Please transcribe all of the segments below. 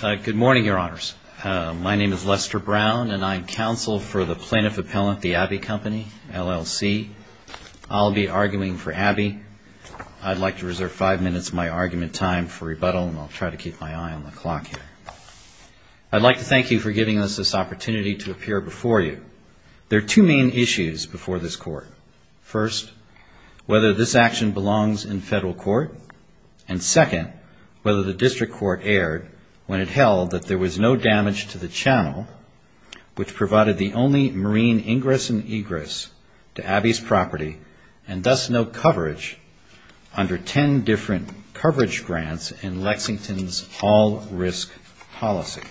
Good morning, Your Honors. My name is Lester Brown, and I am counsel for the Plaintiff Appellant, the Abbey Company, LLC. I'll be arguing for Abbey. I'd like to reserve five minutes of my argument time for rebuttal, and I'll try to keep my eye on the clock here. I'd like to thank you for giving us this opportunity to appear before you. There are two main issues before this Court. First, whether this action belongs in federal court. And second, whether the District Court erred when it held that there was no damage to the channel, which provided the only marine ingress and egress to Abbey's property, and thus no coverage under ten different coverage grants in Lexington's all-risk policy.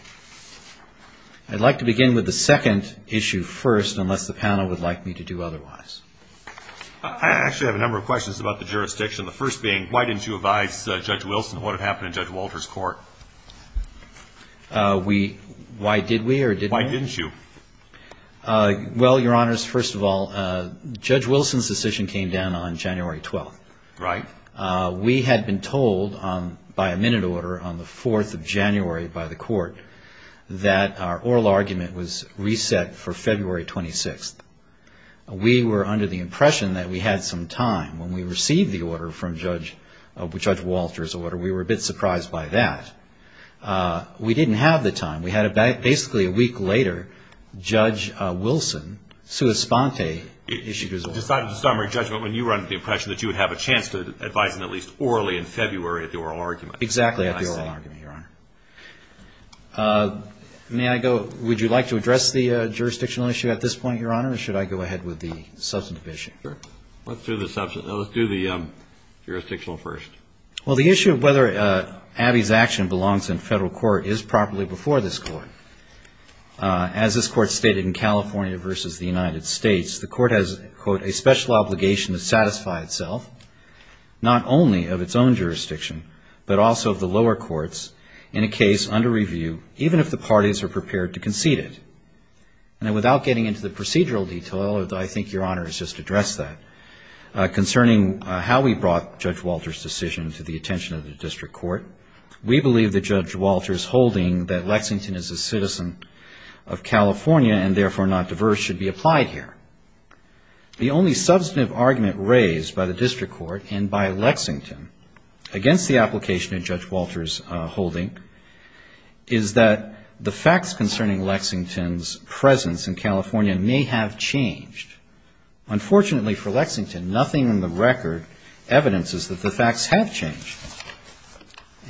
I'd like to begin with the second issue first, unless the panel would like me to do otherwise. I actually have a number of questions about the jurisdiction. The first being, why didn't you advise Judge Wilson on what had happened in Judge Walter's court? Why did we or did we not? Why didn't you? Well, Your Honors, first of all, Judge Wilson's decision came down on January 12th. Right. We had been told by a minute order on the 4th of January by the Court that our oral argument was reset for February 26th. We were under the impression that we had some time. When we received the order from Judge Walter's order, we were a bit surprised by that. We didn't have the time. We had basically a week later, Judge Wilson, sua sponte, issued his order. Decided to start our judgment when you were under the impression that you would have a chance to advise him at least orally in February at the oral argument. Exactly at the oral argument, Your Honor. May I go? Would you like to address the jurisdictional issue at this point, Your Honor, or should I go ahead with the substantive issue? Sure. Let's do the jurisdictional first. Well, the issue of whether Abbey's action belongs in federal court is properly before this Court. As this Court stated in California v. The United States, the Court has, quote, not only of its own jurisdiction, but also of the lower courts in a case under review, even if the parties are prepared to concede it. And without getting into the procedural detail, I think Your Honor has just addressed that, concerning how we brought Judge Walter's decision to the attention of the district court. We believe that Judge Walter's holding that Lexington is a citizen of California and therefore not diverse should be applied here. The only substantive argument raised by the district court and by Lexington against the application of Judge Walter's holding is that the facts concerning Lexington's presence in California may have changed. Unfortunately for Lexington, nothing in the record evidences that the facts have changed.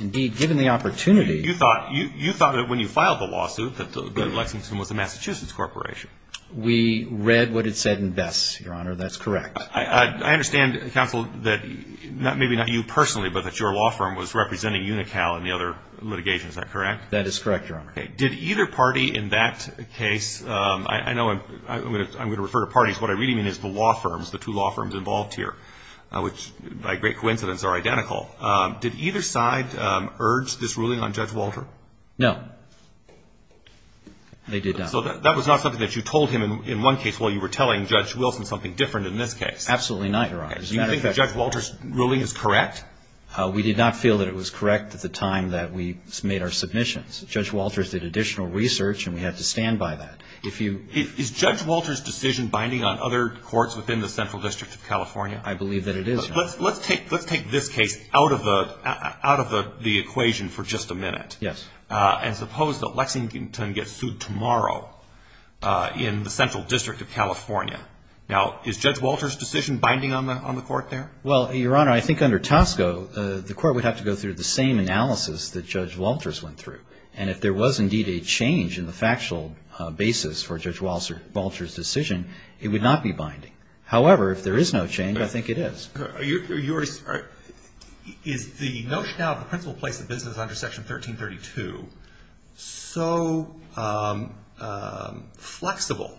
Indeed, given the opportunity... You thought that when you filed the lawsuit that Lexington was a Massachusetts corporation. We read what it said in Bess, Your Honor. That's correct. I understand, counsel, that maybe not you personally, but that your law firm was representing Unical in the other litigation. Is that correct? That is correct, Your Honor. Did either party in that case, I know I'm going to refer to parties, what I really mean is the law firms, the two law firms involved here, which by great coincidence are identical, did either side urge this ruling on Judge Walter? No. They did not. So that was not something that you told him in one case while you were telling Judge Wilson something different in this case? Absolutely not, Your Honor. Do you think that Judge Walter's ruling is correct? We did not feel that it was correct at the time that we made our submissions. Judge Walter did additional research and we had to stand by that. Is Judge Walter's decision binding on other courts within the Central District of California? I believe that it is, Your Honor. Let's take this case out of the equation for just a minute. Yes. And suppose that Lexington gets sued tomorrow in the Central District of California. Now, is Judge Walter's decision binding on the court there? Well, Your Honor, I think under Tosco, the court would have to go through the same analysis that Judge Walter's went through. And if there was indeed a change in the factual basis for Judge Walter's decision, it would not be binding. However, if there is no change, I think it is. Is the notion now of the principal place of business under Section 1332 so flexible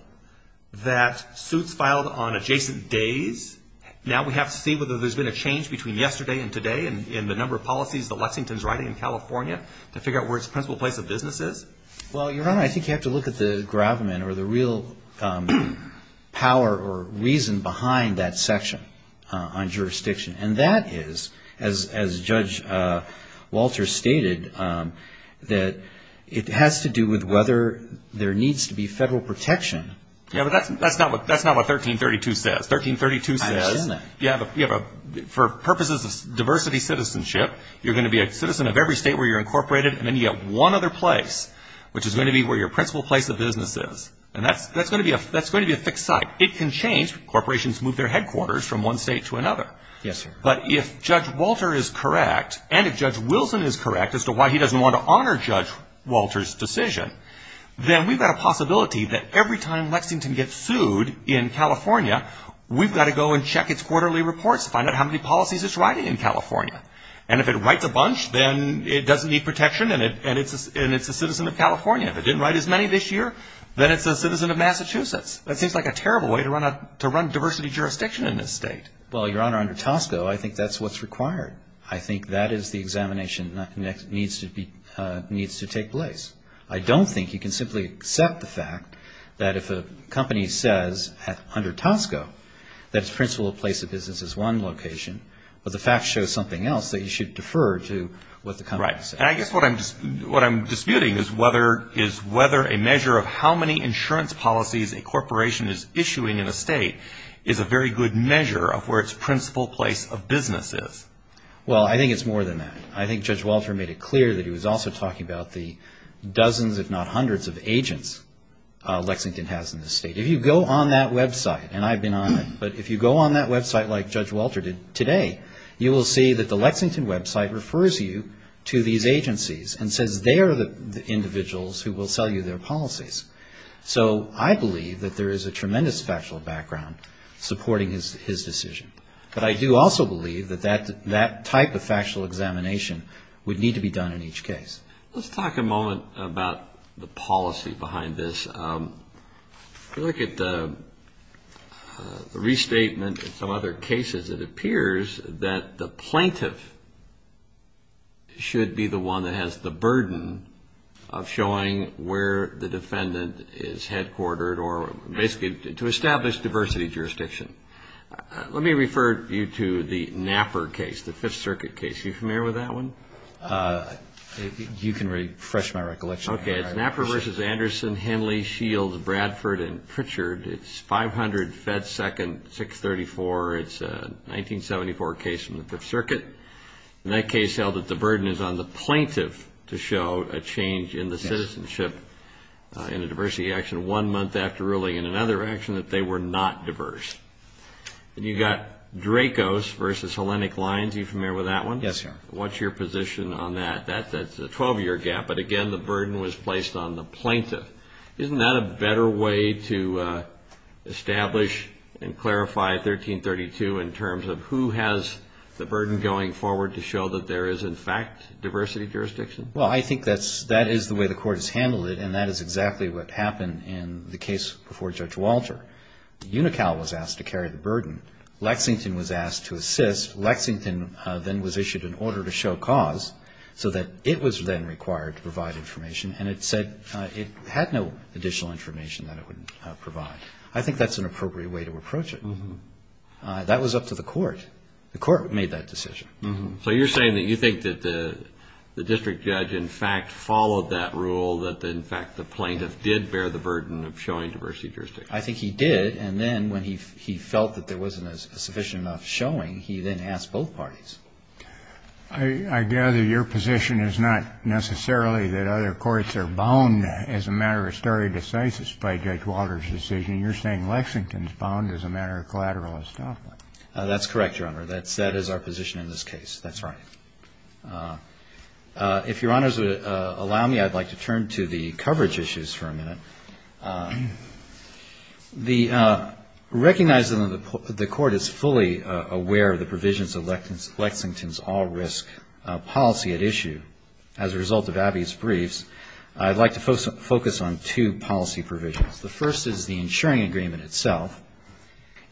that suits filed on adjacent days, now we have to see whether there's been a change between yesterday and today in the number of policies that Lexington's writing in California to figure out where its principal place of business is? Well, Your Honor, I think you have to look at the gravamen or the real power or reason behind that section on jurisdiction. And that is, as Judge Walter stated, that it has to do with whether there needs to be federal protection. Yes, but that's not what 1332 says. It does, doesn't it? Well, Your Honor, for purposes of diversity citizenship, you're going to be a citizen of every state where you're incorporated, and then you get one other place, which is going to be where your principal place of business is. And that's going to be a fixed site. It can change. Corporations move their headquarters from one state to another. But if Judge Walter is correct, and if Judge Wilson is correct as to why he doesn't want to honor Judge Walter's decision, then we've got a possibility that every time Lexington gets sued in California, we've got to go and check its quarterly reports to find out how many policies it's writing in California. And if it writes a bunch, then it doesn't need protection, and it's a citizen of California. If it didn't write as many this year, then it's a citizen of Massachusetts. That seems like a terrible way to run diversity jurisdiction in this state. Well, Your Honor, under Tosco, I think that's what's required. I think that is the examination that needs to take place. I don't think you can simply accept the fact that if a company says under Tosco that its principal place of business is one location, but the fact shows something else, that you should defer to what the company says. Right. I think that what a corporation is issuing in a state is a very good measure of where its principal place of business is. Well, I think it's more than that. I think Judge Walter made it clear that he was also talking about the dozens, if not hundreds, of agents Lexington has in this state. If you go on that website, and I've been on it, but if you go on that website like Judge Walter did today, you will see that the Lexington website refers you to these agencies and says they are the individuals who will sell you their policies. So I believe that there is a tremendous factual background supporting his decision. But I do also believe that that type of factual examination would need to be done in each case. Let's talk a moment about the policy behind this. If you look at the restatement and some other cases, it appears that the plaintiff should be the one that has the burden of showing where the defendant is. The plaintiff should show where the defendant is headquartered or basically to establish diversity jurisdiction. Let me refer you to the Napper case, the Fifth Circuit case. Are you familiar with that one? You can refresh my recollection. Okay. Napper v. Anderson, Henley, Shields, Bradford, and Pritchard. It's 500 Fed Second 634. It's a 1974 case from the Fifth Circuit. And that case held that the burden is on the plaintiff to show a change in the citizenship in a diversity action one month after ruling in another action that they were not diverse. And you've got Dracos v. Hellenic Lines. Are you familiar with that one? Yes, sir. What's your position on that? That's a 12-year gap, but again, the burden was placed on the plaintiff. Isn't that a better way to establish and clarify 1332 in terms of who has the burden going forward to show that there is in fact diversity jurisdiction? Well, I think that is the way the court has handled it, and that is exactly what happened in the case before Judge Walter. UNICAL was asked to carry the burden. Lexington was asked to assist. Lexington then was issued an order to show cause so that it was then required to provide information, and it said it had no additional information that it would provide. I think that's an appropriate way to approach it. That was up to the court. The court made that decision. So you're saying that you think that the district judge in fact followed that rule, that in fact the plaintiff did bear the burden of showing diversity jurisdiction? I think he did. And then when he felt that there wasn't a sufficient enough showing, he then asked both parties. I gather your position is not necessarily that other courts are bound as a matter of stare decisis by Judge Walter's decision. You're saying Lexington's bound as a matter of collateral establishment. That's correct, Your Honor. That is our position in this case. That's right. If Your Honors would allow me, I'd like to turn to the coverage issues for a minute. Recognizing that the court is fully aware of the provisions of Lexington's all-risk policy at issue as a result of Abbey's briefs, I'd like to focus on two policy provisions. The first is the insuring agreement itself.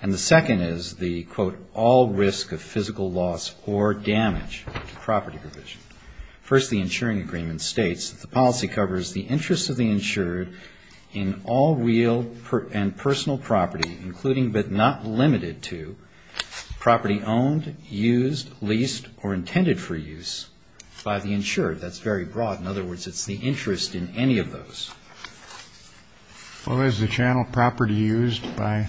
And the second is the, quote, all risk of physical loss or damage to property provision. First, the insuring agreement states that the policy covers the interest of the insured in all real and personal property, including but not limited to property owned, used, leased or intended for use by the insured. That's very broad. In other words, it's the interest in any of those. Well, is the channel property used by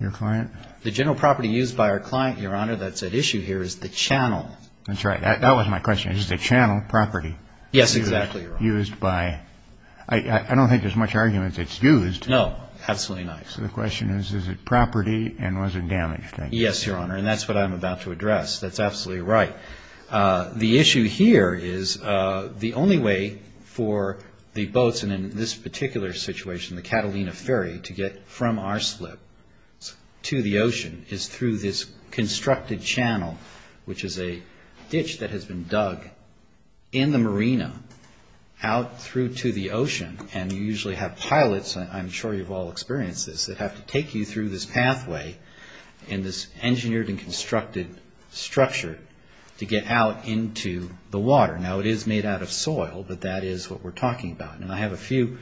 your client? The general property used by our client, Your Honor, that's at issue here is the channel. That's right. That wasn't my question. Is the channel property used by, I don't think there's much argument that it's used. No, absolutely not. So the question is, is it property and was it damaged? Yes, Your Honor, and that's what I'm about to address. That's absolutely right. The issue here is the only way for the boats, and in this particular situation, the Catalina Ferry, to get from our slip to the ocean is through this constructed channel, which is a ditch that has been dug in the marina out through to the ocean. And you usually have pilots, I'm sure you've all experienced this, that have to take you through this pathway in this engineered and constructed structure to get out into the water. Now, it is made out of soil, but that is what we're talking about. And I have a few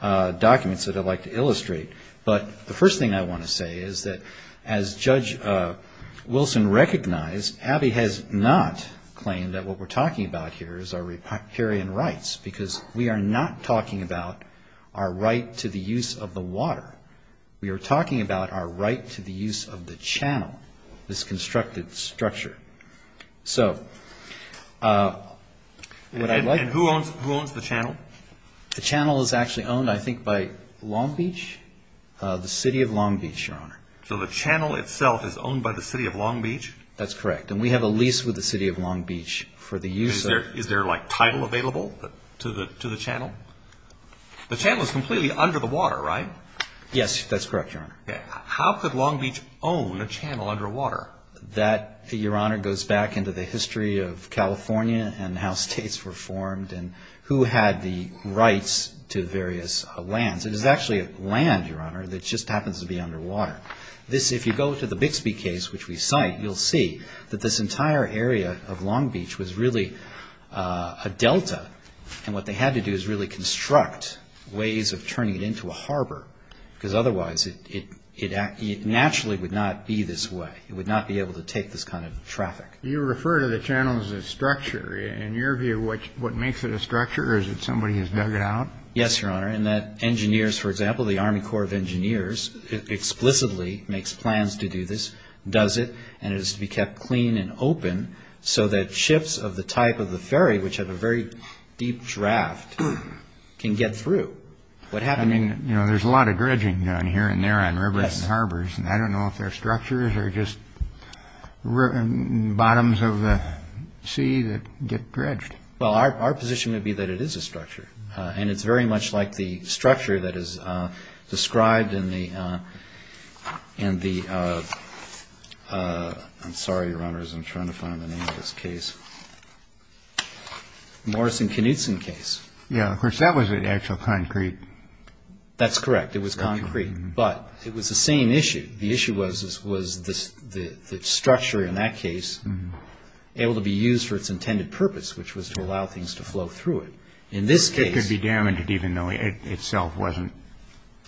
documents that I'd like to illustrate. But the first thing I want to say is that as Judge Wilson recognized, Abbey has not claimed that what we're talking about here is our riparian rights, because we are not talking about our right to the use of the water. We are talking about our right to the use of the channel, this constructed structure. So what I'd like to... And who owns the channel? The channel is actually owned, I think, by Long Beach, the City of Long Beach, Your Honor. So the channel itself is owned by the City of Long Beach? That's correct. And we have a lease with the City of Long Beach for the use of... Is there, like, title available to the channel? The channel is completely under the water, right? Yes, that's correct, Your Honor. How could Long Beach own a channel underwater? That, Your Honor, goes back into the history of California and how states were formed and who had the rights to various lands. It is actually land, Your Honor, that just happens to be underwater. This, if you go to the Bixby case, which we cite, you'll see that this entire area of Long Beach was really a delta, and what they had to do is really construct ways of turning it into a harbor. Because otherwise, it naturally would not be this way. It would not be able to take this kind of traffic. You refer to the channel as a structure. In your view, what makes it a structure is that somebody has dug it out? Yes, Your Honor, and that engineers, for example, the Army Corps of Engineers, explicitly makes plans to do this, does it, and it is to be kept clean and open so that ships of the type of the ferry, which have a very deep draft, can get through. I mean, there's a lot of dredging down here and there on rivers and harbors, and I don't know if they're structures or just bottoms of the sea that get dredged. Well, our position would be that it is a structure, and it's very much like the structure that is described in the, I'm sorry, Your Honor, as I'm trying to find the name of this case, Morrison-Knudson case. Yes, of course, that was actual concrete. That's correct, it was concrete, but it was the same issue. The issue was the structure in that case able to be used for its intended purpose, which was to allow things to flow through it. It could be damaged even though it itself wasn't.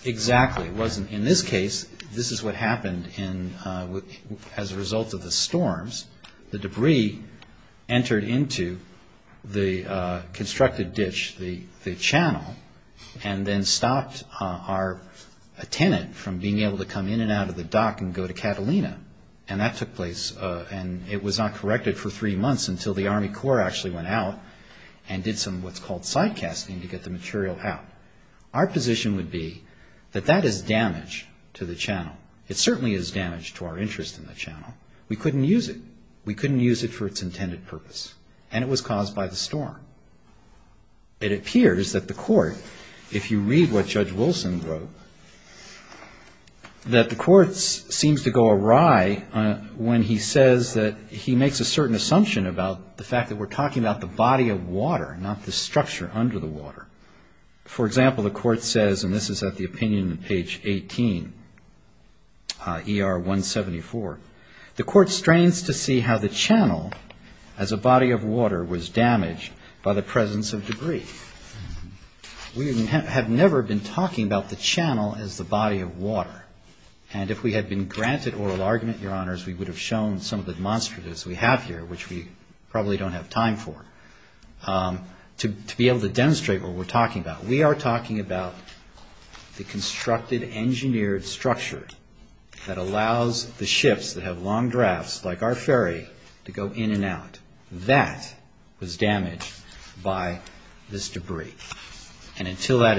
Exactly, it wasn't. In this case, this is what happened as a result of the storms. The debris entered into the constructed ditch, the channel, and then stopped our tenant from being able to come in and out of the dock and go to Catalina. And that took place, and it was not corrected for three months until the Army Corps actually went out and did some what's called side casting to get the material out. Our position would be that that is damage to the channel. It certainly is damage to our interest in the channel. We couldn't use it. We couldn't use it for its intended purpose, and it was caused by the storm. It appears that the court, if you read what Judge Wilson wrote, that the court seems to go awry when he says that he makes a certain assumption about the fact that we're talking about the body of water, not the structure under the water. For example, the court says, and this is at the opinion on page 18, ER 174, the court strains to see how the channel as a body of water was damaged by the presence of debris. We have never been talking about the channel as the body of water. And if we had been granted oral argument, Your Honors, we would have shown some of the demonstratives we have here, which we probably don't have time for, to be able to demonstrate what we're talking about. We're talking about the constructed, engineered structure that allows the ships that have long drafts, like our ferry, to go in and out. That was damaged by this debris. And until that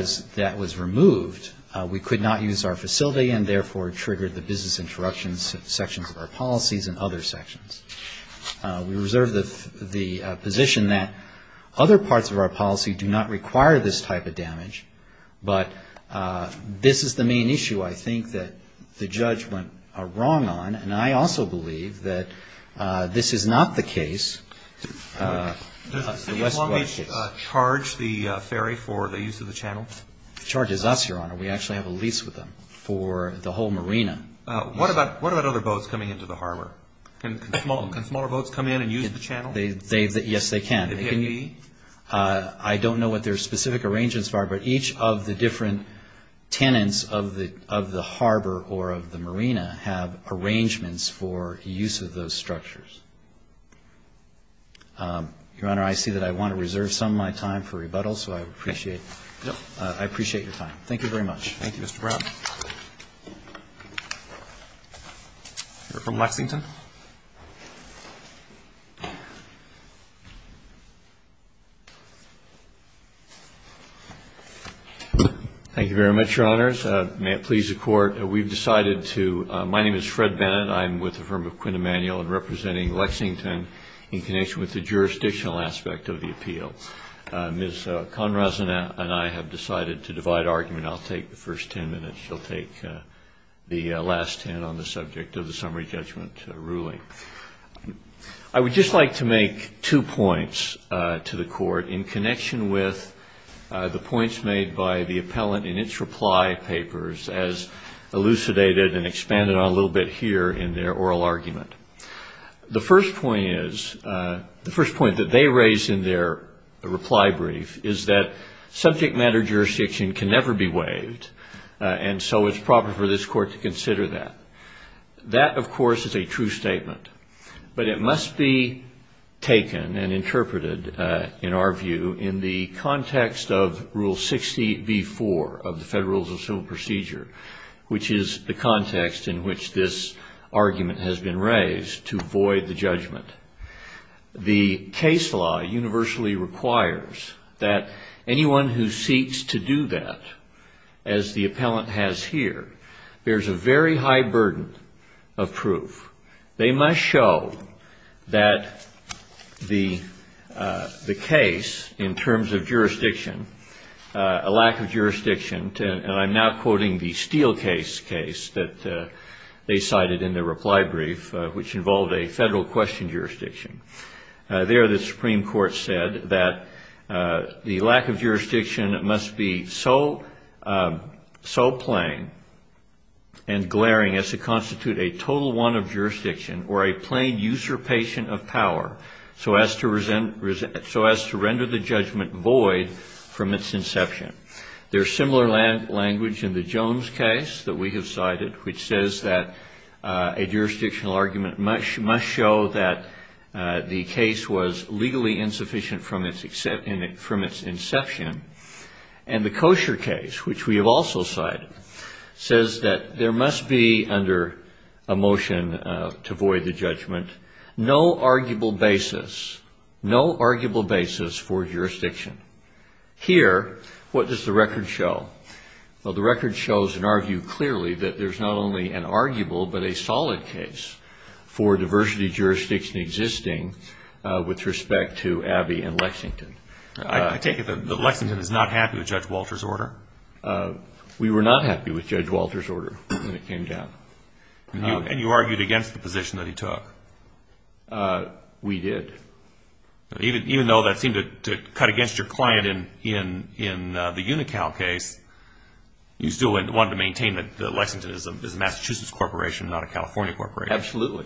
was removed, we could not use our facility and, therefore, triggered the business interruptions sections of our policies and other sections. We reserve the position that other parts of our policy do not require this type of damage. But this is the main issue, I think, that the judge went wrong on. And I also believe that this is not the case. The West Coast case. It charges us, Your Honor. We actually have a lease with them for the whole marina. What about other boats coming into the harbor? Can smaller boats come in and use the channel? Yes, they can. I don't know what their specific arrangements are, but each of the different tenants of the harbor or of the marina have arrangements for use of those structures. Your Honor, I see that I want to reserve some of my time for rebuttal, so I appreciate your time. You're from Lexington. Thank you very much, Your Honors. My name is Fred Bennett. I'm with the firm of Quinn Emanuel and representing Lexington in connection with the jurisdictional aspect of the appeal. Ms. Conraza and I have decided to divide argument. I'll take the first 10 minutes. She'll take the last 10 on the subject of the summary judgment ruling. I would just like to make two points to the Court in connection with the points made by the appellant in its reply papers as elucidated and expanded on a little bit here in their oral argument. The first point that they raise in their reply brief is that subject matter jurisdiction can never be waived, and so it's proper for this Court to consider that. That, of course, is a true statement, but it must be taken and interpreted, in our view, in the context of Rule 60b-4 of the Federal Rules of Civil Procedure, which is the context in which this argument has been raised. The case law universally requires that anyone who seeks to do that, as the appellant has here, bears a very high burden of proof. They must show that the case, in terms of jurisdiction, a lack of jurisdiction, and I'm now quoting the Steelcase case that they cited in their reply brief, which involved a federal question jurisdiction. There, the Supreme Court said that the lack of jurisdiction must be so plain and glaring as to constitute a total one of jurisdiction, or a plain usurpation of power, so as to render the judgment void from its inception. There's similar language in the Jones case that we have cited, which says that a jurisdictional argument must be a total one. It must show that the case was legally insufficient from its inception. And the Kosher case, which we have also cited, says that there must be, under a motion to void the judgment, no arguable basis for jurisdiction. Here, what does the record show? Well, the record shows, and argued clearly, that there's not only an arguable, but a solid case for diversity jurisdiction existing with respect to Abbey and Lexington. I take it that Lexington is not happy with Judge Walter's order? We were not happy with Judge Walter's order when it came down. And you argued against the position that he took? We did. Even though that seemed to cut against your client in the Unical case, you still wanted to maintain that Lexington is a Massachusetts corporation, not a California corporation? Absolutely.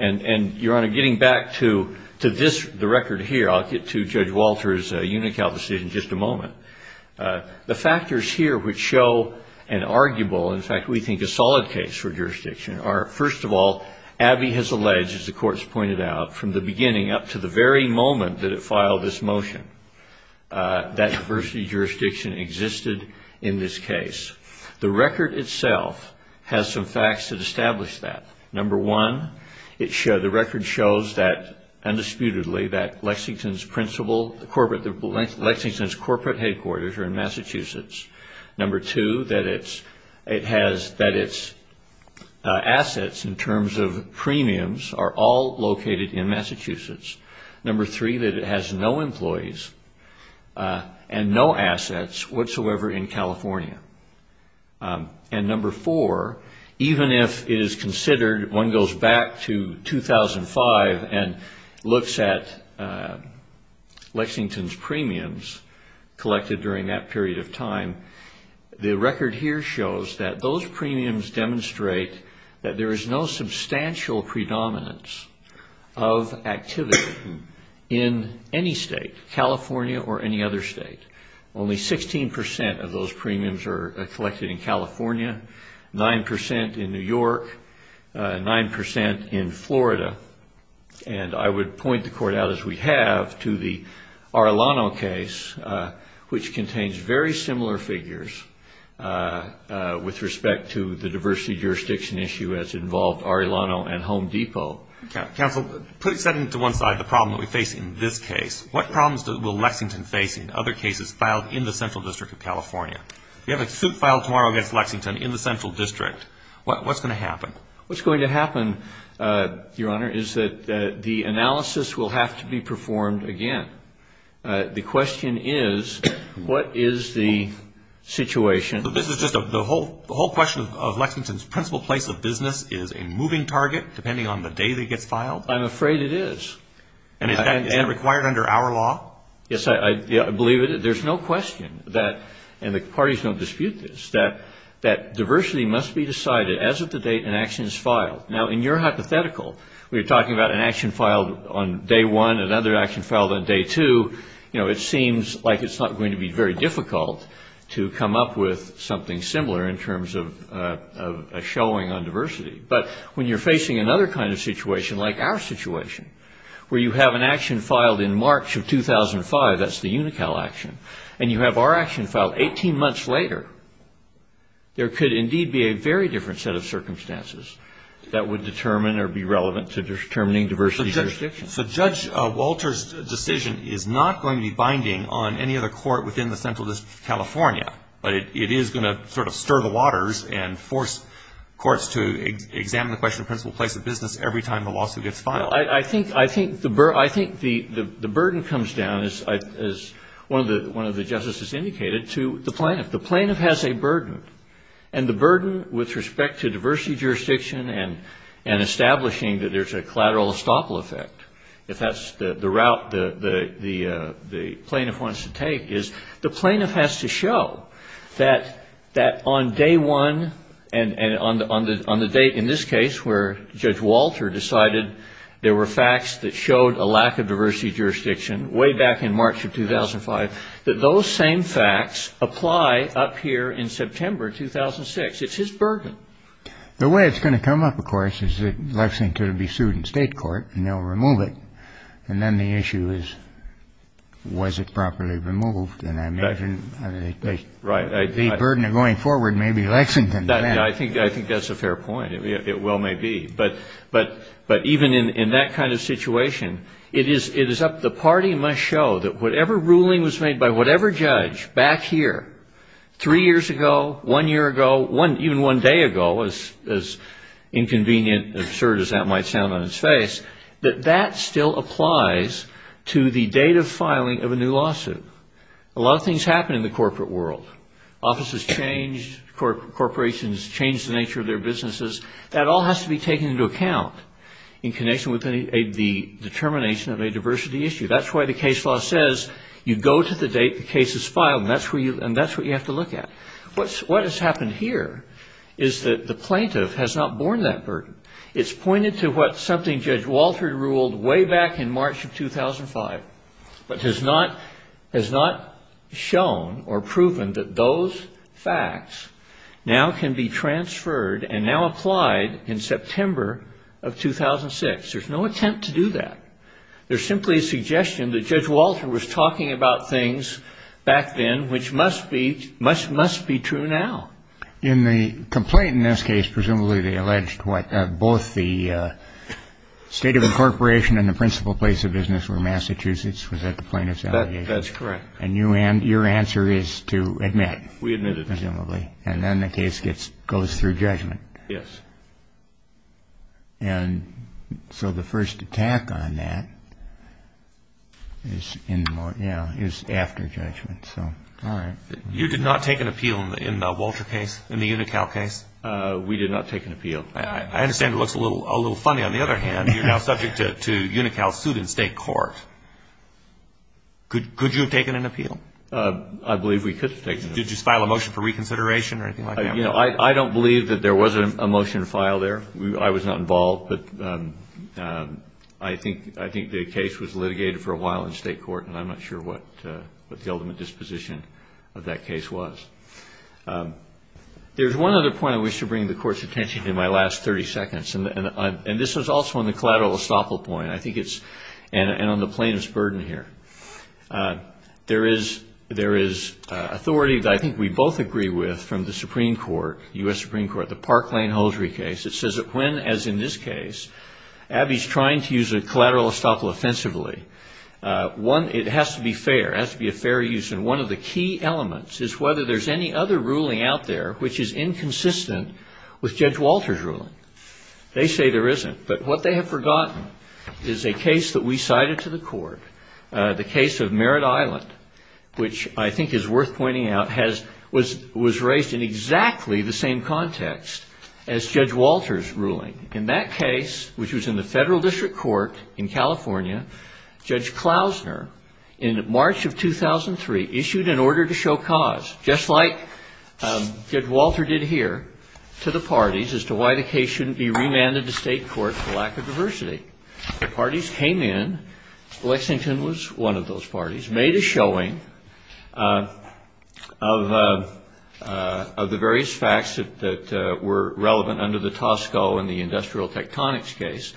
And, Your Honor, getting back to the record here, I'll get to Judge Walter's Unical decision in just a moment. The factors here which show an arguable, in fact, we think a solid case for jurisdiction are, first of all, Abbey has alleged, as the Court has pointed out, from the beginning up to the very moment that it filed this motion, that diversity jurisdiction existed in this case. The record itself has some facts that establish that. Number one, the record shows that, undisputedly, that Lexington's principal, Lexington's corporate headquarters, are in Massachusetts. Number two, that its assets, in terms of premiums, are all located in Massachusetts. Number three, that it has no employees and no assets whatsoever in California. And number four, even if it is considered, one goes back to 2005 and looks at Lexington's premiums collected in California, during that period of time, the record here shows that those premiums demonstrate that there is no substantial predominance of activity in any state, California or any other state. Only 16% of those premiums are collected in California, 9% in New York, 9% in Florida. And I would point the Court out, as we have, to the Arlano case, which came out in 2005. Which contains very similar figures with respect to the diversity jurisdiction issue as involved Arlano and Home Depot. Counsel, put aside to one side the problem that we face in this case. What problems will Lexington face in other cases filed in the Central District of California? We have a suit filed tomorrow against Lexington in the Central District. What's going to happen? What's going to happen, Your Honor, is that the analysis will have to be performed again. The question is, what is the situation? The whole question of Lexington's principal place of business is a moving target, depending on the day that it gets filed? I'm afraid it is. And is that required under our law? Yes, I believe it. There's no question that, and the parties don't dispute this, that diversity must be decided as of the date an action is filed. Now, in your hypothetical, we're talking about an action filed on day one, another action filed on day two. You know, it seems like it's not going to be very difficult to come up with something similar in terms of a showing on diversity. But when you're facing another kind of situation, like our situation, where you have an action filed in March of 2005, that's the UNICAL action, and you have our action filed 18 months later, there could indeed be a very different set of circumstances that would determine or be relevant to determining diversity jurisdiction. So Judge Walter's decision is not going to be binding on any other court within the Central District of California, but it is going to sort of stir the waters and force courts to examine the question of principal place of business every time the lawsuit gets filed. Well, I think the burden comes down, as one of the justices indicated, to the plaintiff. The plaintiff has a burden, and the burden with respect to diversity jurisdiction and establishing that there's a collateral estoppel effect, if that's the route the plaintiff wants to take, is the plaintiff has to show that on day one, and on the date in this case where Judge Walter decided there were facts that showed a lack of diversity jurisdiction, way back in March of 2005, that those same facts apply up here in September 2006. It's his burden. The way it's going to come up, of course, is that Lexington will be sued in state court, and they'll remove it. And then the issue is, was it properly removed? And I imagine the burden of going forward may be Lexington. I think that's a fair point. It well may be. But even in that kind of situation, the party must show that whatever ruling was made by whatever judge back here three years ago, one year ago, even one day ago, as inconvenient, absurd as that might sound on its face, that that still applies to the date of filing of a new lawsuit. A lot of things happen in the corporate world. Offices change, corporations change the nature of their businesses. That all has to be taken into account in connection with the determination of a diversity issue. That's why the case law says you go to the date the case is filed, and that's what you have to look at. What has happened here is that the plaintiff has not borne that burden. It's pointed to what something Judge Walter ruled way back in March of 2005, but has not shown or proven that those facts now can be transferred and now applied in September of 2006. There's no attempt to do that. There's simply a suggestion that Judge Walter was talking about things back then which must be true now. In the complaint in this case, presumably they alleged both the state of incorporation and the principal place of business were Massachusetts, was that the plaintiff's allegation? That's correct. And your answer is to admit? We admit it. And then the case goes through judgment. Yes. So the first attack on that is after judgment. You did not take an appeal in the Walter case, in the UNICAL case? We did not take an appeal. I understand it looks a little funny on the other hand. You're now subject to UNICAL suit in state court. Could you have taken an appeal? I believe we could have taken an appeal. Did you file a motion for reconsideration or anything like that? I don't believe that there was a motion filed there. I was not involved, but I think the case was litigated for a while in state court and I'm not sure what the ultimate disposition of that case was. There's one other point I wish to bring the Court's attention to in my last 30 seconds and this was also on the collateral estoppel point and on the plaintiff's burden here. There is authority that I think we both agree with from the Supreme Court, U.S. Supreme Court, the Park Lane-Hosry case. It says that when, as in this case, Abby's trying to use a collateral estoppel offensively, it has to be fair, it has to be a fair use. And one of the key elements is whether there's any other ruling out there which is inconsistent with Judge Walter's ruling. They say there isn't, but what they have forgotten is a case that we cited to the Court, the case of Merritt Island, which I think is worth pointing out, was raised in exactly the same context as Judge Walter's ruling. In that case, which was in the Federal District Court in California, Judge Klausner, in March of 2003, issued an order to show cause, just like Judge Walter did here, to the parties, as to why the case shouldn't be remanded to state court for lack of diversity. The parties came in, Lexington was one of those parties, and it was made a showing of the various facts that were relevant under the Tosco and the industrial tectonics case.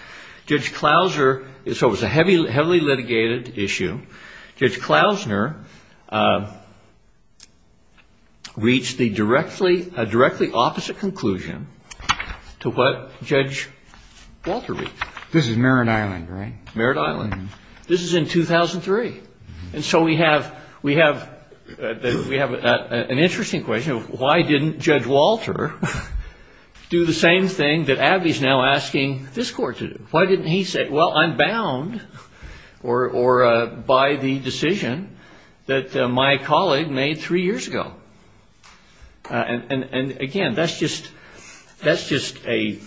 Judge Klausner, so it was a heavily litigated issue, Judge Klausner reached a directly opposite conclusion to what Judge Walter reached. This is Merritt Island, right? This is in 2003. And so we have an interesting question of why didn't Judge Walter do the same thing that Abby's now asking this Court to do? Why didn't he say, well, I'm bound by the decision that my colleague made three years ago? And, again, that's just a,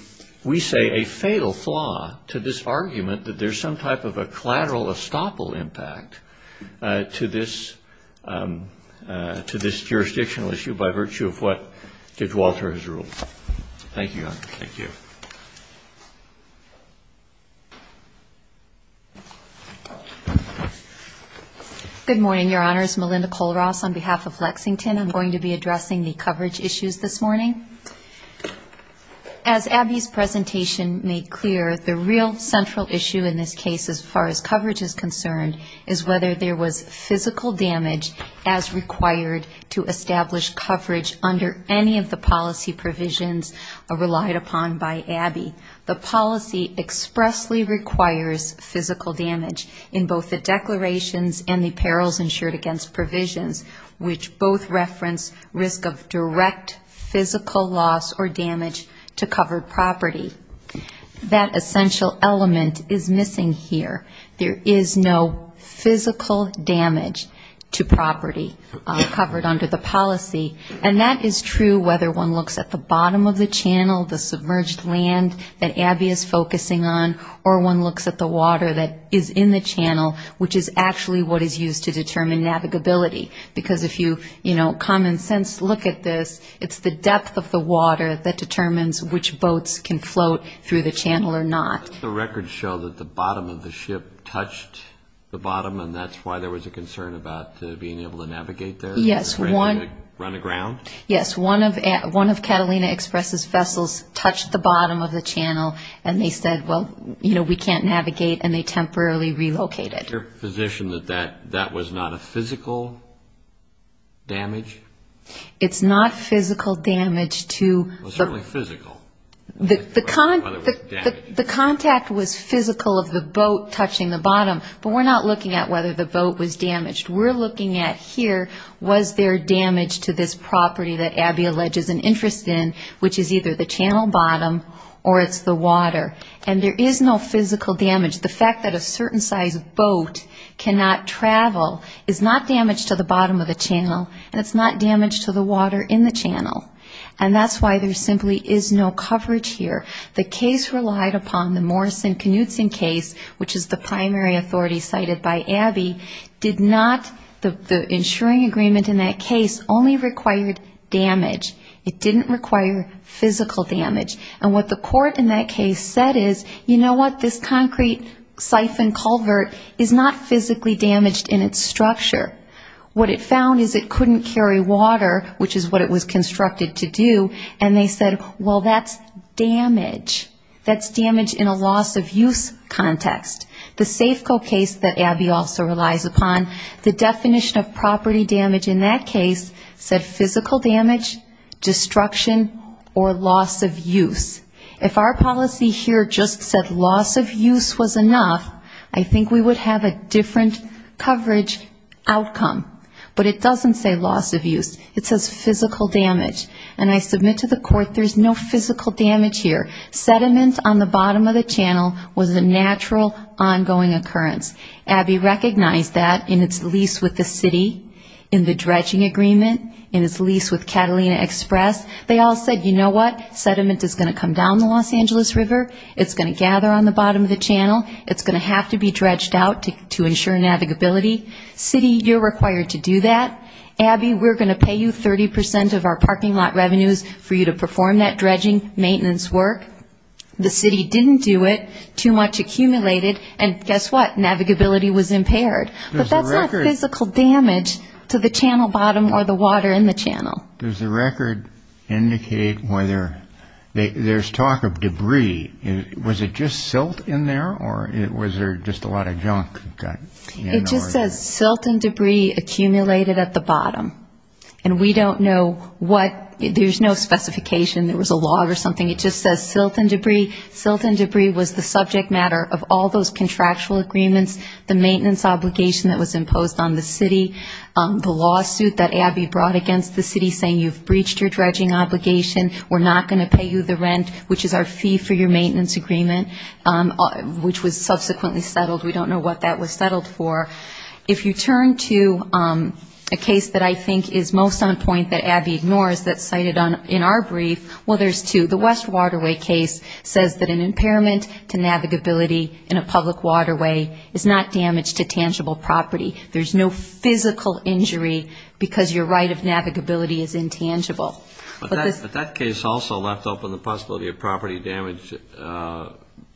we say, a fatal flaw to this argument that there's some type of a collateral estoppel impact to this jurisdictional issue by virtue of what Judge Walter has ruled. Thank you, Your Honor. Good morning, Your Honors. Melinda Colross on behalf of Lexington. I'm going to be addressing the coverage issues this morning. As Abby's presentation made clear, the real central issue in this case as far as coverage is concerned and the provisions relied upon by Abby, the policy expressly requires physical damage in both the declarations and the perils insured against provisions, which both reference risk of direct physical loss or damage to covered property. That essential element is missing here. There is no physical damage to property covered under the policy. And that is true whether one looks at the bottom of the channel, the submerged land that Abby is focusing on, or one looks at the water that is in the channel, which is actually what is used to determine navigability. Because if you, you know, common sense look at this, it's the depth of the water that determines which boats can float through the channel or not. The records show that the bottom of the ship touched the bottom, and that's why there was a concern about being able to navigate there and run aground? Yes, one of Catalina Express's vessels touched the bottom of the channel, and they said, well, you know, we can't navigate, and they temporarily relocated. Is your position that that was not a physical damage? It's not physical damage to... Well, certainly physical. The contact was physical of the boat touching the bottom, but we're not looking at whether the boat was damaged. We're looking at here, was there damage to this property that Abby alleges an interest in, which is either the channel bottom or it's the water. And there is no physical damage. The fact that a certain size boat cannot travel is not damage to the bottom of the channel, and it's not damage to the water in the channel. And that's why there simply is no coverage here. The case relied upon the Morrison-Knudsen case, which is the primary authority cited by Abby, did not, the insuring agreement in that case only required damage. It didn't require physical damage. And what the court in that case said is, you know what, this concrete siphon culvert is not physically damaged in its structure. What it found is it couldn't carry water, which is what it was constructed to do, and they said, well, that's damage. That's damage in a loss-of-use context. The Safeco case that Abby also relies upon, the definition of property damage in that case said physical damage, destruction, or loss of use. If our policy here just said loss of use was enough, I think we would have a different coverage outcome. But it doesn't say loss of use. It says physical damage, and I submit to the court there's no physical damage here. Sediment on the bottom of the channel was a natural ongoing occurrence. Abby recognized that in its lease with the city, in the dredging agreement, in its lease with Catalina Express. They all said, you know what, sediment is going to come down the Los Angeles River, it's going to gather on the bottom of the channel, it's going to have to be dredged out to ensure navigability. City, you're required to do that. Abby, we're going to pay you 30 percent of our parking lot revenues for you to perform that dredging maintenance work. The city didn't do it, too much accumulated, and guess what, navigability was impaired. But that's not physical damage to the channel bottom or the water in the channel. Does the record indicate whether there's talk of debris? Was it just silt in there, or was there just a lot of junk? It just says silt and debris accumulated at the bottom. And we don't know what, there's no specification, there was a log or something, it just says silt and debris. Silt and debris was the subject matter of all those contractual agreements, the maintenance obligation that was imposed on the city, the lawsuit that Abby brought against the city saying you've breached your dredging obligation, we're not going to pay you the rent, which is our fee for your maintenance agreement, which was subsequently settled. We don't know what that was settled for. If you turn to a case that I think is most on point that Abby ignores that's cited in our brief, well, there's two. The West Waterway case says that an impairment to navigability in a public waterway is not damage to tangible property. There's no physical injury because your right of navigability is intangible. But that case also left open the possibility of property damage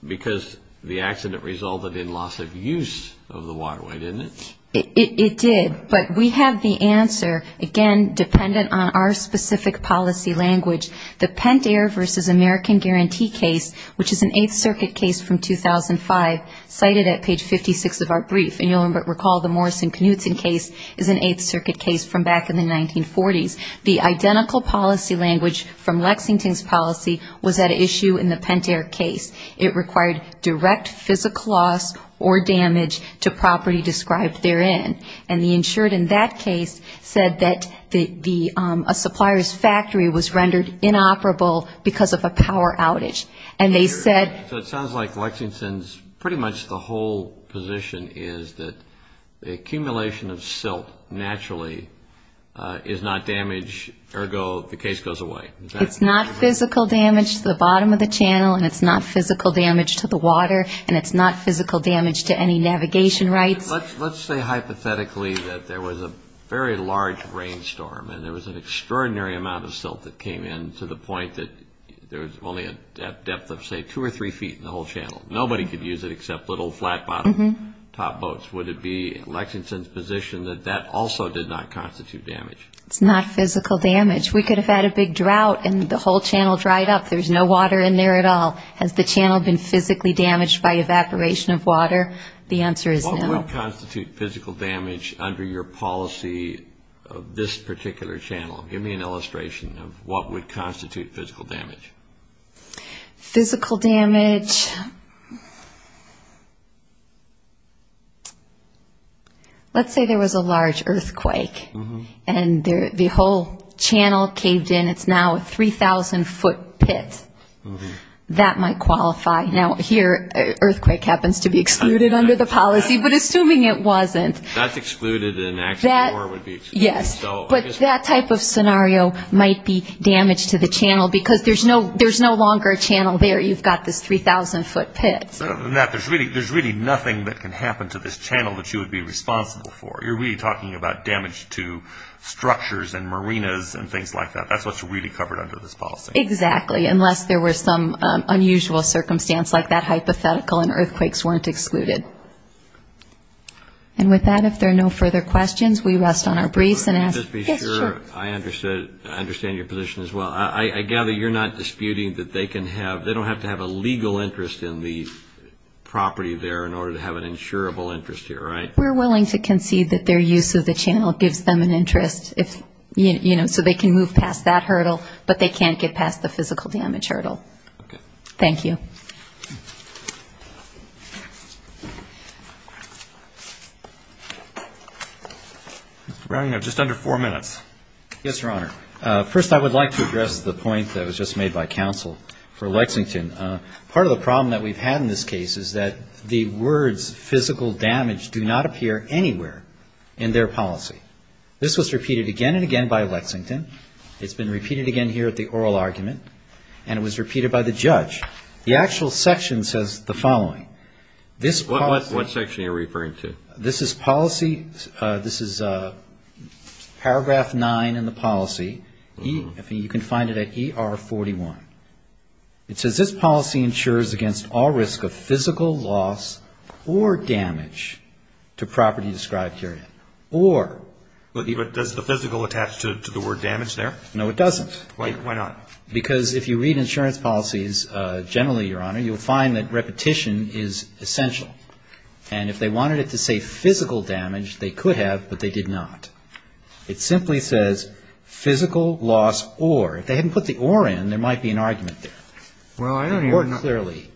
because the accident resulted in loss of use of the waterway, didn't it? It did, but we have the answer, again, dependent on our specific policy language. The Pentair v. American Guarantee case, which is an Eighth Circuit case from 2005, cited at page 56 of our brief. And you'll recall the Morrison-Knudsen case is an Eighth Circuit case from back in the 1940s. The identical policy language from Lexington's policy was at issue in the Pentair case. It required direct physical loss or damage to property described therein. And the insured in that case said that a supplier's factory was rendered inoperable because of a power outage. And they said... It's not physical damage to the bottom of the channel and it's not physical damage to the water and it's not physical damage to any navigation rights. Let's say hypothetically that there was a very large rainstorm and there was an extraordinary amount of silt that came in to the point that there was only a depth of, say, two or three feet in the whole channel. Nobody could use it except little flat-bottomed top boats. Would it be Lexington's position that that also did not constitute damage? It's not physical damage. We could have had a big drought and the whole channel dried up. There's no water in there at all. Has the channel been physically damaged by evaporation of water? The answer is no. What would constitute physical damage under your policy of this particular channel? Give me an illustration of what would constitute physical damage. Physical damage... Let's say there was a large earthquake and the whole channel caved in. It's now a 3,000-foot pit. That might qualify. Now, here, earthquake happens to be excluded under the policy, but assuming it wasn't... That's excluded in action or would be excluded. Yes, but that type of scenario might be damage to the channel because there's no longer a channel there. You've got this 3,000-foot pit. Other than that, there's really nothing that can happen to this channel that you would be responsible for. You're really talking about damage to structures and marinas and things like that. That's what's really covered under this policy. Exactly, unless there were some unusual circumstance like that hypothetical and earthquakes weren't excluded. And with that, if there are no further questions, we rest on our briefs and ask... Just to be sure, I understand your position as well. I gather you're not disputing that they can have... They don't have to have a legal interest in the property there in order to have an insurable interest here, right? We're willing to concede that their use of the channel gives them an interest, so they can move past that hurdle, but they can't get past the physical damage hurdle. Mr. Browning, you have just under four minutes. Yes, Your Honor. First, I would like to address the point that was just made by counsel for Lexington. Part of the problem that we've had in this case is that the words physical damage do not appear anywhere in their policy. This was repeated again and again by Lexington. It's been repeated again here at the oral argument, and it was repeated by the judge. The actual section says the following. What section are you referring to? This is paragraph 9 in the policy. You can find it at ER 41. It says this policy ensures against all risk of physical loss or damage to property described herein. Or... Does the physical attach to the word damage there? No, it doesn't. Why not? Because if you read insurance policies generally, Your Honor, you'll find that repetition is essential. And if they wanted it to say physical damage, they could have, but they did not. It simply says physical loss or. If they hadn't put the or in, there might be an argument there. Or clearly.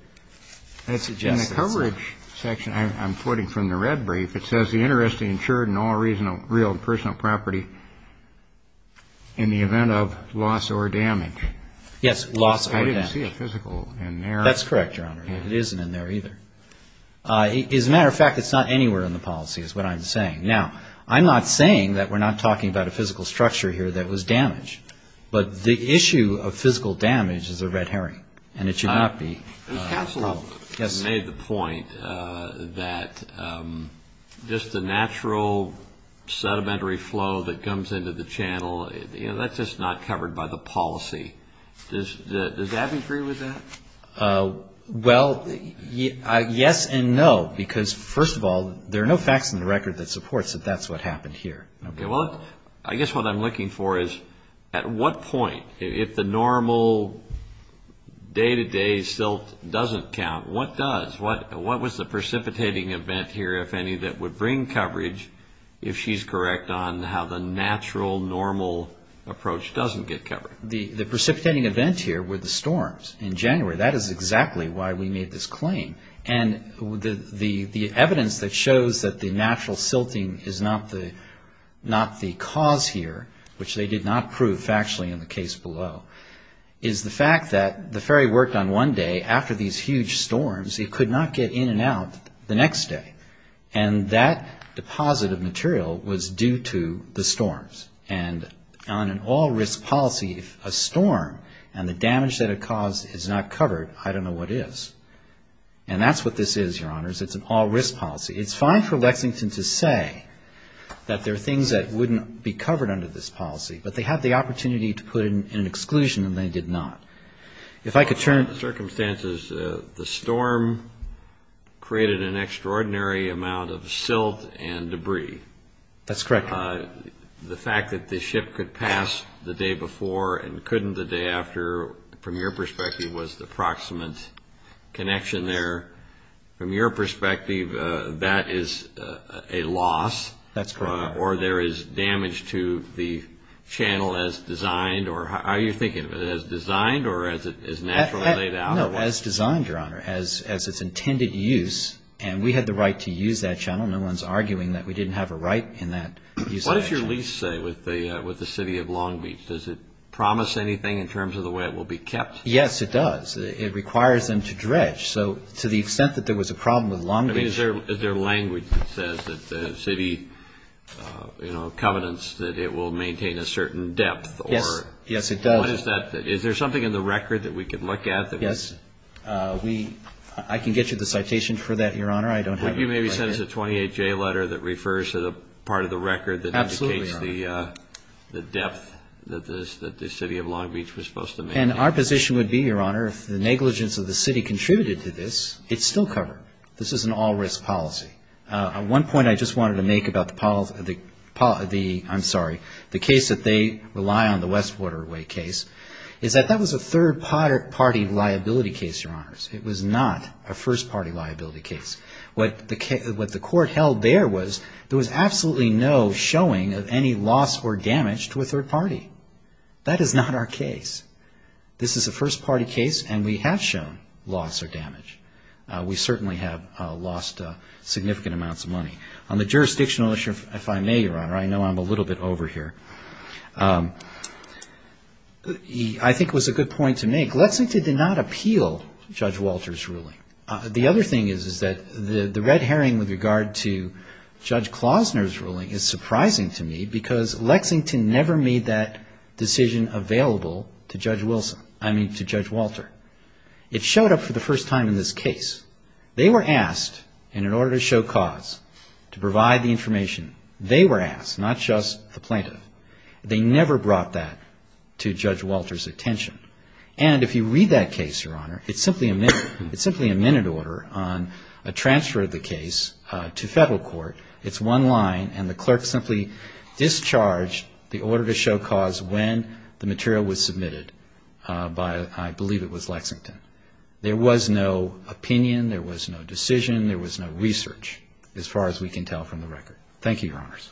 In the coverage section, I'm quoting from the red brief. It says the interest is ensured in all real personal property in the event of loss or damage. Yes, loss or damage. I didn't see a physical in there. That's correct, Your Honor. It isn't in there either. As a matter of fact, it's not anywhere in the policy is what I'm saying. Now, I'm not saying that we're not talking about a physical structure here that was damaged. But the issue of physical damage is a red herring, and it should not be. Counselor made the point that just the natural sedimentary flow that comes into the channel, that's just not covered by the policy. Does that agree with that? Well, yes and no. Because first of all, there are no facts in the record that supports that that's what happened here. Okay, well, I guess what I'm looking for is at what point, if the normal day-to-day silt doesn't count, what does? What was the precipitating event here, if any, that would bring coverage, if she's correct, on how the natural, normal approach doesn't get covered? The precipitating event here were the storms in January. That is exactly why we made this claim. And the evidence that shows that the natural silting is not the cause here, which they did not prove factually in the case below, is the fact that the ferry worked on one day. After these huge storms, it could not get in and out the next day. And that deposit of material was due to the storms. And on an all-risk policy, if a storm and the damage that it caused is not covered, I don't know what is. And that's what this is, Your Honors. It's an all-risk policy. It's fine for Lexington to say that there are things that wouldn't be covered under this policy, but they had the opportunity to put in an exclusion and they did not. If I could turn to circumstances, the storm created an extraordinary amount of silt and debris. That's correct. The fact that the ship could pass the day before and couldn't the day after, from your perspective, was the proximate connection there. From your perspective, that is a loss. That's correct. Or there is damage to the channel as designed. Are you thinking of it as designed or as naturally laid out? No, as designed, Your Honor, as its intended use. And we had the right to use that channel. No one's arguing that we didn't have a right in that use of that channel. What does your lease say with the city of Long Beach? Does it promise anything in terms of the way it will be kept? Yes, it does. It requires them to dredge. Is there language that says that the city covenants that it will maintain a certain depth? Yes, it does. Is there something in the record that we could look at? Yes. I can get you the citation for that, Your Honor. You maybe sent us a 28J letter that refers to the part of the record that indicates the depth that the city of Long Beach was supposed to maintain. And our position would be, Your Honor, if the negligence of the city contributed to this, it's still covered. This is an all-risk policy. One point I just wanted to make about the, I'm sorry, the case that they rely on, the West Waterway case, is that that was a third-party liability case, Your Honor. It was not a first-party liability case. What the court held there was there was absolutely no showing of any loss or damage to a third party. That is not our case. This is a first-party case, and we have shown loss or damage. We certainly have lost significant amounts of money. On the jurisdictional issue, if I may, Your Honor, I know I'm a little bit over here. I think it was a good point to make. Lexington did not appeal Judge Walter's ruling. The other thing is, is that the red herring with regard to Judge Klausner's ruling is surprising to me, because Lexington never made that decision available to Judge Wilson, I mean to Judge Walter. It showed up for the first time in this case. They were asked, and in order to show cause to provide the information, they were asked, not just the plaintiff. They never brought that to Judge Walter's attention. And if you read that case, Your Honor, it's simply a minute order on a transfer of the case to federal court. It's one line, and the clerk simply discharged the order to show cause when the material was submitted by, I believe it was Lexington. There was no opinion. There was no decision. There was no research, as far as we can tell from the record. Thank you, Your Honors. Thank you.